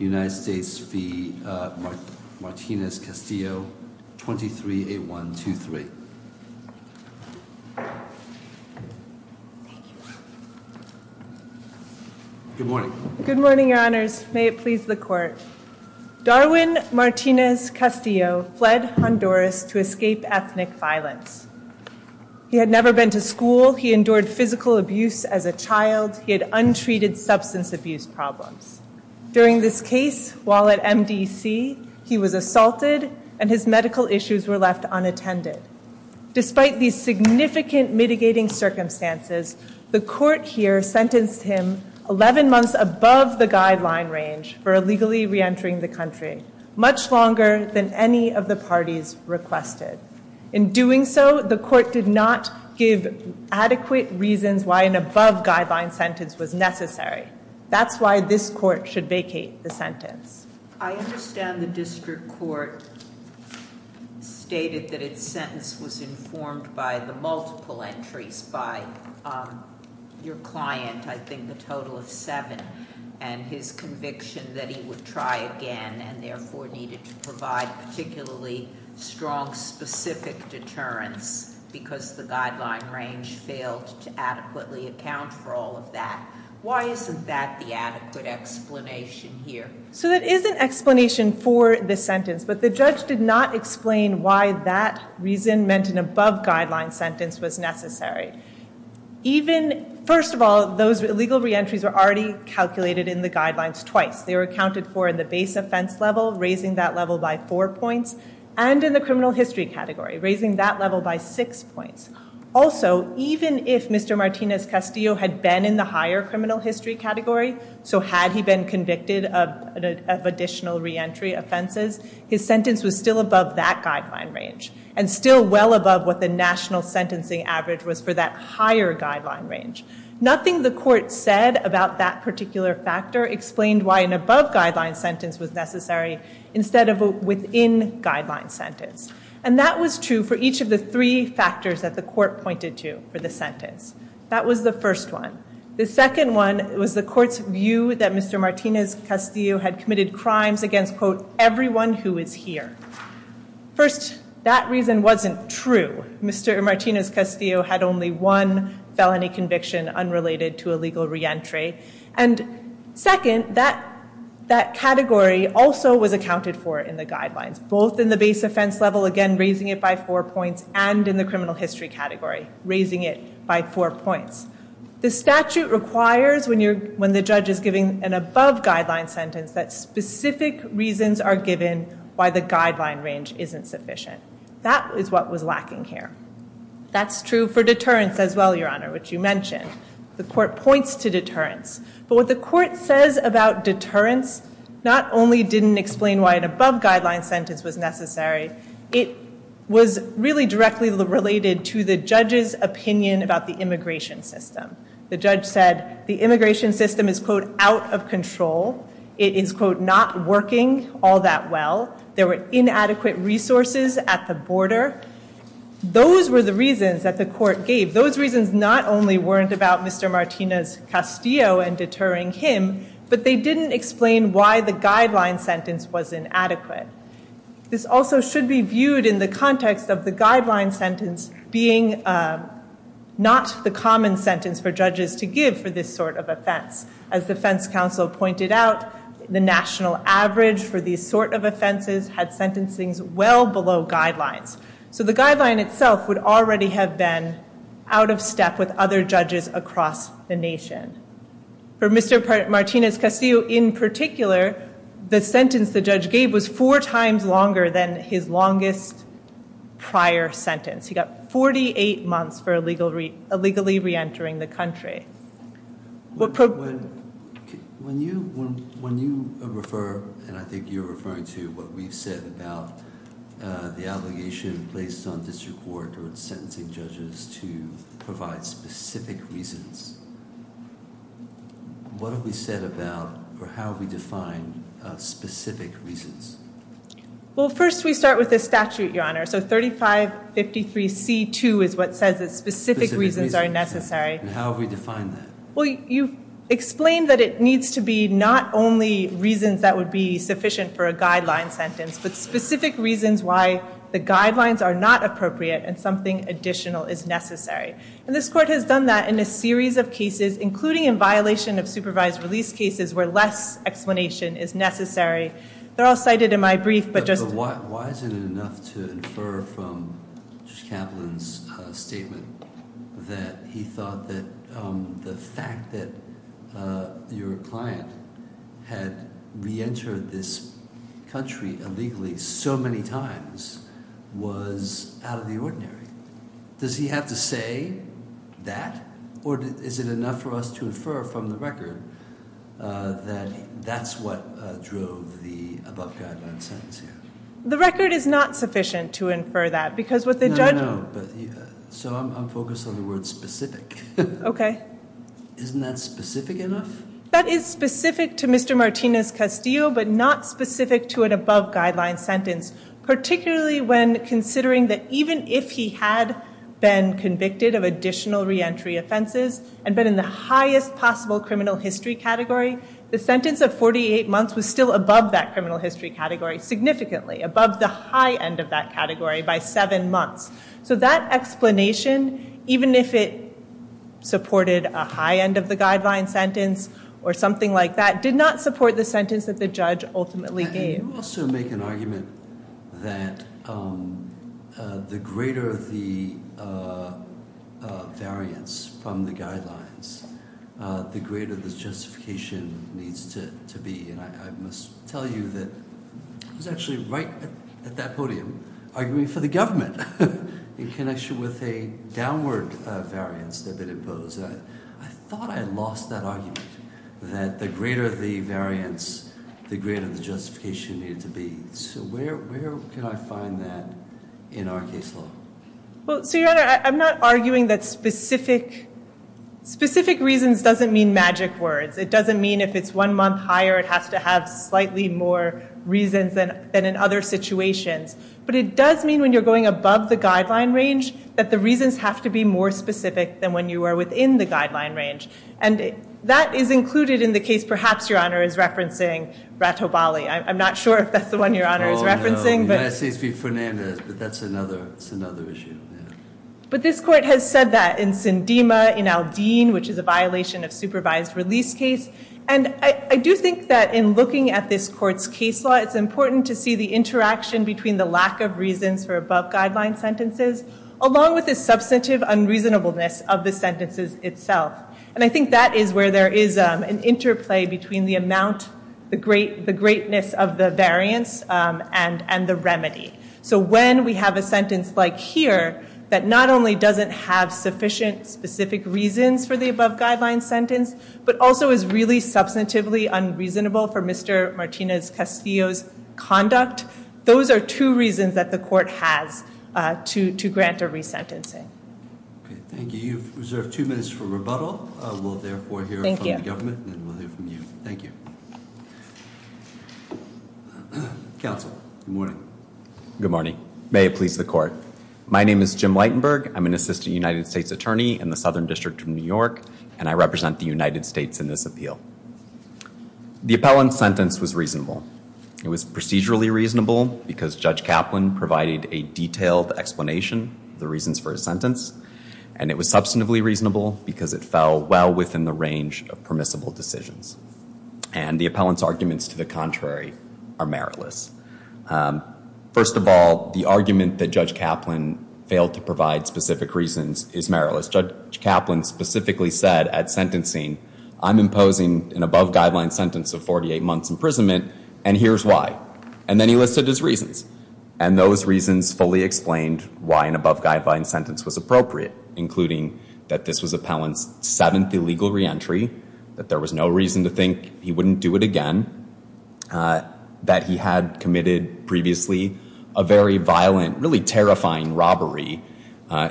23A123. Good morning. Good morning, Your Honors. May it please the Court. Darwin Martinez Castillo fled Honduras to escape ethnic violence. He had never been to school. He endured physical abuse as a child. He had untreated substance abuse problems. During this case, while at MDC, he was assaulted and his medical issues were left unattended. Despite these significant mitigating circumstances, the Court here sentenced him 11 months above the guideline range for illegally reentering the country, much longer than any of the parties requested. In doing so, the Court did not give adequate reasons why an above-guideline sentence was necessary. That's why this Court should vacate the sentence. I understand the District Court stated that its sentence was informed by the multiple entries by your client, I think the total of seven, and his conviction that he would try again and therefore needed to provide particularly strong specific deterrence because the guideline range failed to adequately account for all of that. Why isn't that the adequate explanation here? So there is an explanation for this sentence, but the judge did not explain why that reason meant an above-guideline sentence was necessary. First of all, those illegal reentries were already calculated in the guidelines twice. They were accounted for in the base offense level, raising that level by four points, and in the criminal history category, raising that level by six points. Also, even if Mr. Martinez-Castillo had been in the higher criminal history category, so had he been convicted of additional reentry offenses, his sentence was still above that guideline range, and still well above what the national sentencing average was for that higher guideline range. Nothing the court said about that particular factor explained why an above-guideline sentence was necessary instead of a within-guideline sentence. And that was true for each of the three factors that the court pointed to for the sentence. That was the first one. The second one was the court's view that Mr. Martinez-Castillo had committed crimes against, quote, everyone who is here. First, that reason wasn't true. Mr. Martinez-Castillo had only one felony conviction unrelated to illegal reentry. And second, that category also was accounted for in the guidelines, both in the base offense level, again, raising it by four points, and in the criminal history category, raising it by four points. The statute requires, when the judge is giving an above-guideline sentence, that specific reasons are given why the guideline range isn't sufficient. That is what was lacking here. That's true for deterrence as well, Your Honor, which you mentioned. The court points to deterrence. But what the court says about deterrence not only didn't explain why an above-guideline sentence was necessary, it was really directly related to the judge's opinion about the immigration system. The judge said the immigration system is, quote, out of control. It is, quote, not working all that well. There were inadequate resources at the border. Those were the reasons that the court gave. Those reasons not only weren't about Mr. Martinez-Castillo and deterring him, but they didn't explain why the guideline sentence was inadequate. This also should be viewed in the context of the guideline sentence being not the common sentence for judges to give for this sort of offense. As the Fence Council pointed out, the national average for these sort of offenses had sentencings well below guidelines. So the guideline itself would already have been out of step with other judges across the nation. For Mr. Martinez-Castillo, in particular, the sentence the judge gave was four times longer than his longest prior sentence. He got 48 months for illegally reentering the country. When you refer, and I think you're referring to what we've said about the allegation placed on district court or sentencing judges to provide specific reasons, what have we said about or how have we defined specific reasons? Well, first we start with the statute, Your Honor. So 3553C2 is what says that specific reasons are necessary. And how have we defined that? You've explained that it needs to be not only reasons that would be sufficient for a guideline sentence, but specific reasons why the guidelines are not appropriate and something additional is necessary. And this court has done that in a series of cases, including in violation of supervised release cases, where less explanation is necessary. They're all cited in my brief, but just- But why isn't it enough to infer from Judge Kaplan's statement that he thought that the fact that your client had reentered this country illegally so many times was out of the ordinary? Does he have to say that? Or is it enough for us to infer from the record that that's what drove the above guideline sentence here? The record is not sufficient to infer that because what the judge- No, no, no. So I'm focused on the word specific. Okay. Isn't that specific enough? That is specific to Mr. Martinez-Castillo, but not specific to an above guideline sentence. Particularly when considering that even if he had been convicted of additional reentry offenses and been in the highest possible criminal history category, the sentence of 48 months was still above that criminal history category significantly, above the high end of that category by seven months. So that explanation, even if it supported a high end of the guideline sentence or something like that, did not support the sentence that the judge ultimately gave. Can you also make an argument that the greater the variance from the guidelines, the greater the justification needs to be? And I must tell you that I was actually right at that podium arguing for the government in connection with a downward variance that had been imposed. I thought I lost that argument, that the greater the variance, the greater the justification needed to be. So where can I find that in our case law? Well, so Your Honor, I'm not arguing that specific reasons doesn't mean magic words. It doesn't mean if it's one month higher, it has to have slightly more reasons than in other situations. But it does mean when you're going above the guideline range, that the reasons have to be more specific than when you are within the guideline range. And that is included in the case, perhaps Your Honor is referencing, Brattobali. I'm not sure if that's the one Your Honor is referencing. No, United States v. Fernandez, but that's another issue. But this court has said that in Sindema, in Aldine, which is a violation of supervised release case. And I do think that in looking at this court's case law, it's important to see the interaction between the lack of reasons for above guideline sentences, along with the substantive unreasonableness of the sentences itself. And I think that is where there is an interplay between the amount, the greatness of the variance and the remedy. So when we have a sentence like here, that not only doesn't have sufficient specific reasons for the above guideline sentence, but also is really substantively unreasonable for Mr. Martinez-Castillo's conduct, those are two reasons that the court has to grant a resentencing. Thank you. You've reserved two minutes for rebuttal. We'll therefore hear from the government and we'll hear from you. Thank you. Counsel, good morning. Good morning. May it please the court. My name is Jim Lightenberg. I'm an assistant United States attorney in the Southern District of New York, and I represent the United States in this appeal. The appellant's sentence was reasonable. It was procedurally reasonable because Judge Kaplan provided a detailed explanation of the reasons for his sentence, and it was substantively reasonable because it fell well within the range of permissible decisions. And the appellant's arguments to the contrary are meritless. First of all, the argument that Judge Kaplan failed to provide specific reasons is meritless. Judge Kaplan specifically said at sentencing, I'm imposing an above guideline sentence of 48 months imprisonment, and here's why. And then he listed his reasons. And those reasons fully explained why an above guideline sentence was appropriate, including that this was appellant's seventh illegal reentry, that there was no reason to think he wouldn't do it again, that he had committed previously a very violent, really terrifying robbery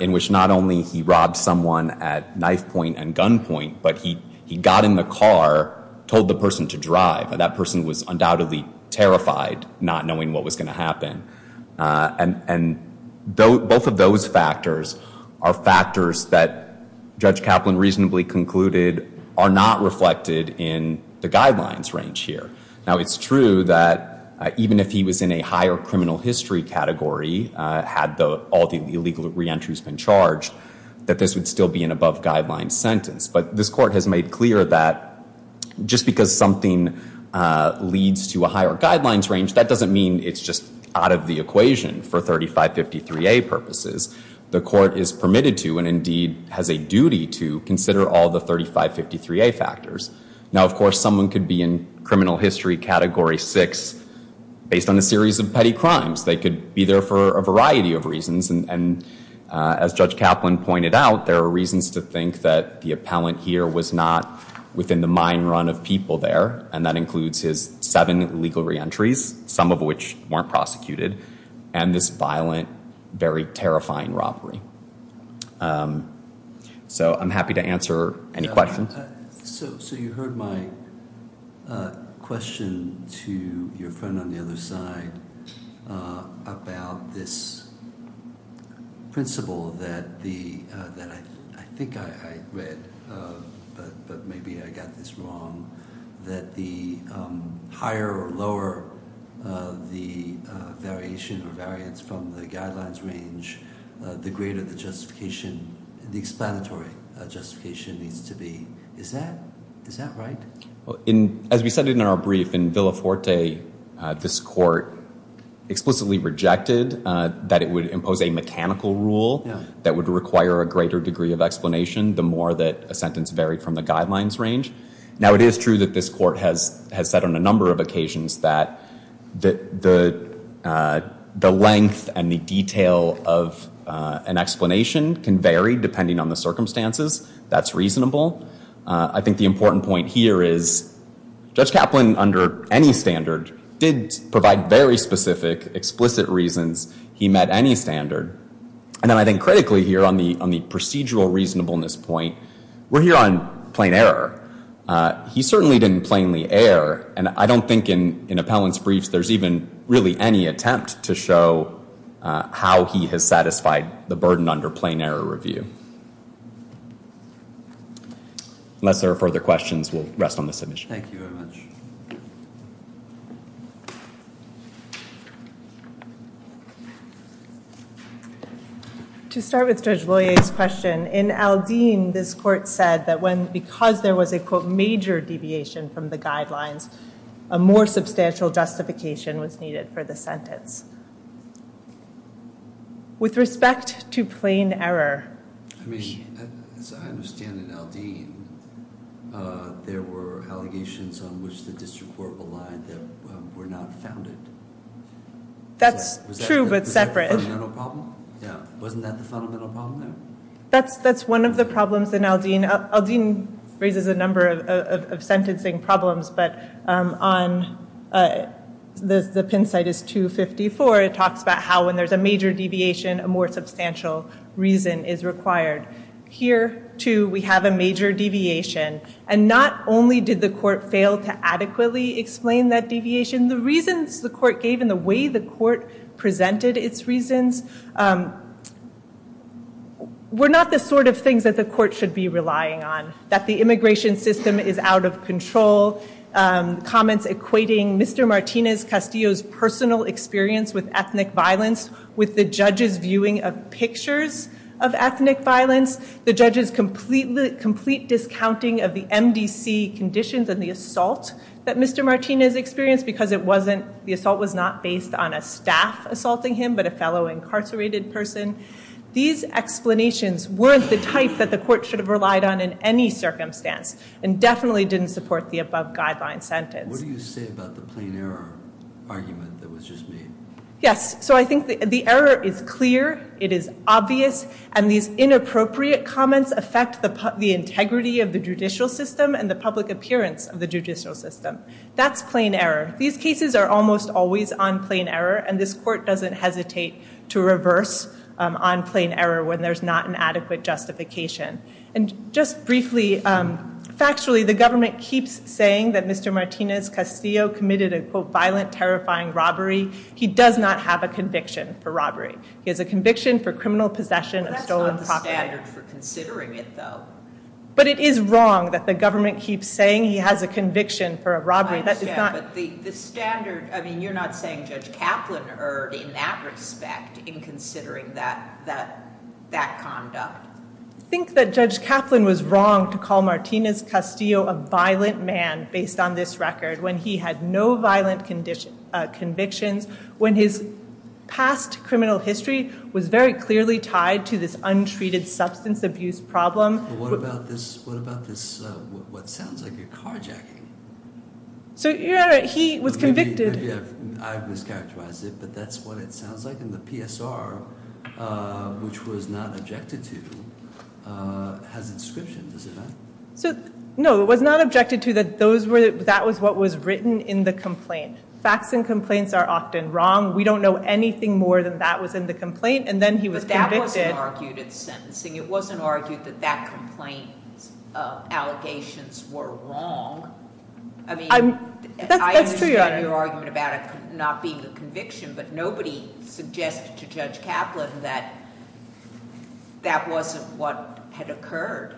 in which not only he robbed someone at knife point and gun point, but he got in the car, told the person to drive, and that person was undoubtedly terrified, not knowing what was going to happen. And both of those factors are factors that Judge Kaplan reasonably concluded are not reflected in the guidelines range here. Now it's true that even if he was in a higher criminal history category, had all the illegal reentries been charged, that this would still be an above guideline sentence. But this Court has made clear that just because something leads to a higher guidelines range, that doesn't mean it's just out of the equation for 3553A purposes. The Court is permitted to, and indeed has a duty to, consider all the 3553A factors. Now of course, someone could be in criminal history category six based on a series of petty crimes. They could be there for a variety of reasons. And as Judge Kaplan pointed out, there are reasons to think that the appellant here was not within the mind run of people there, and that includes his seven legal reentries, some of which weren't prosecuted, and this violent, very terrifying robbery. So I'm happy to answer any questions. So you heard my question to your friend on the other side about this principle that I think I read, but maybe I got this wrong, that the higher or lower the variation or variance from the guidelines range, the greater the justification, the explanatory justification needs to be. Is that right? As we said in our brief, in Villaforte, this Court explicitly rejected that it would impose a mechanical rule that would require a greater degree of explanation the more that a sentence varied from the guidelines range. Now it is true that this Court has said on a number of occasions that the length and the detail of an explanation can vary depending on the circumstances. That's reasonable. I think the important point here is Judge Kaplan, under any standard, did provide very specific, explicit reasons he met any standard. And then I think critically here on the procedural reasonableness point, we're here on plain error. He certainly didn't plainly err, and I don't think in appellant's briefs there's even really any attempt to show how he has satisfied the burden under plain error review. Unless there are further questions, we'll rest on this issue. Thank you very much. To start with Judge Boyer's question, in Aldine this Court said that because there was a quote major deviation from the guidelines, a more substantial justification was needed for the sentence. With respect to plain error... I mean, as I understand in Aldine, there were allegations on which the district court relied that were not founded. That's true, but separate. Was that the fundamental problem? Yeah. Wasn't that the fundamental problem there? That's one of the problems in Aldine. Aldine raises a number of sentencing problems, but on the pin site is 254, it talks about how when there's a major deviation, a more substantial deviation, and not only did the court fail to adequately explain that deviation, the reasons the court gave and the way the court presented its reasons were not the sort of things that the court should be relying on. That the immigration system is out of control, comments equating Mr. Martinez Castillo's personal experience with ethnic violence with the judge's viewing of pictures of ethnic violence, the judge's complete discounting of the MDC conditions and the assault that Mr. Martinez experienced because the assault was not based on a staff assaulting him, but a fellow incarcerated person. These explanations weren't the type that the court should have relied on in any circumstance and definitely didn't support the above guideline sentence. What do you say about the plain error argument that was just made? Yes, so I think the error is clear, it is obvious, and these inappropriate comments affect the integrity of the judicial system and the public appearance of the judicial system. That's plain error. These cases are almost always on plain error and this court doesn't hesitate to reverse on plain error when there's not an adequate justification. And just briefly, factually, the government keeps saying that Mr. Martinez Castillo committed a violent, terrifying robbery. He does not have a conviction for robbery. He has a conviction for criminal possession of stolen property. That's not the standard for considering it though. But it is wrong that the government keeps saying he has a conviction for a robbery. I understand, but the standard, I mean you're not saying Judge Kaplan erred in that respect in considering that conduct. I think that Judge Kaplan was wrong to call Martinez Castillo a violent man based on this record when he had no violent convictions, when his past criminal history was very clearly tied to this untreated substance abuse problem. But what about this, what about this, what sounds like a carjacking? So he was convicted. I've mischaracterized it, but that's what it sounds like in the PSR, which was not objected to, has inscriptions, is it not? No, it was not objected to. That was what was written in the complaint. Facts and complaints are often wrong. We don't know anything more than that was in the complaint and then he was convicted. But that wasn't argued at sentencing. It wasn't argued that that complaint allegations were wrong. I mean, I understand your argument about it not being a conviction, but nobody suggested to Judge Kaplan that that wasn't what had occurred.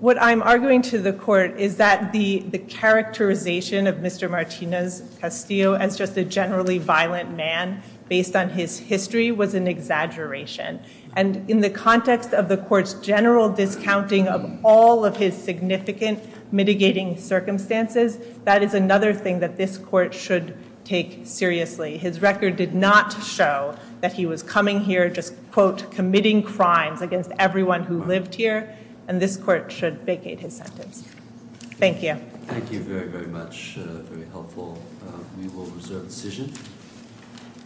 What I'm arguing to the court is that the characterization of Mr. Martinez Castillo as just a generally violent man based on his history was an exaggeration. And in the context of the court's general discounting of all of his significant mitigating circumstances, that is another thing that this court should take seriously. His record did not show that he was coming here just, quote, committing crimes against everyone who lived here, and this court should vacate his sentence. Thank you.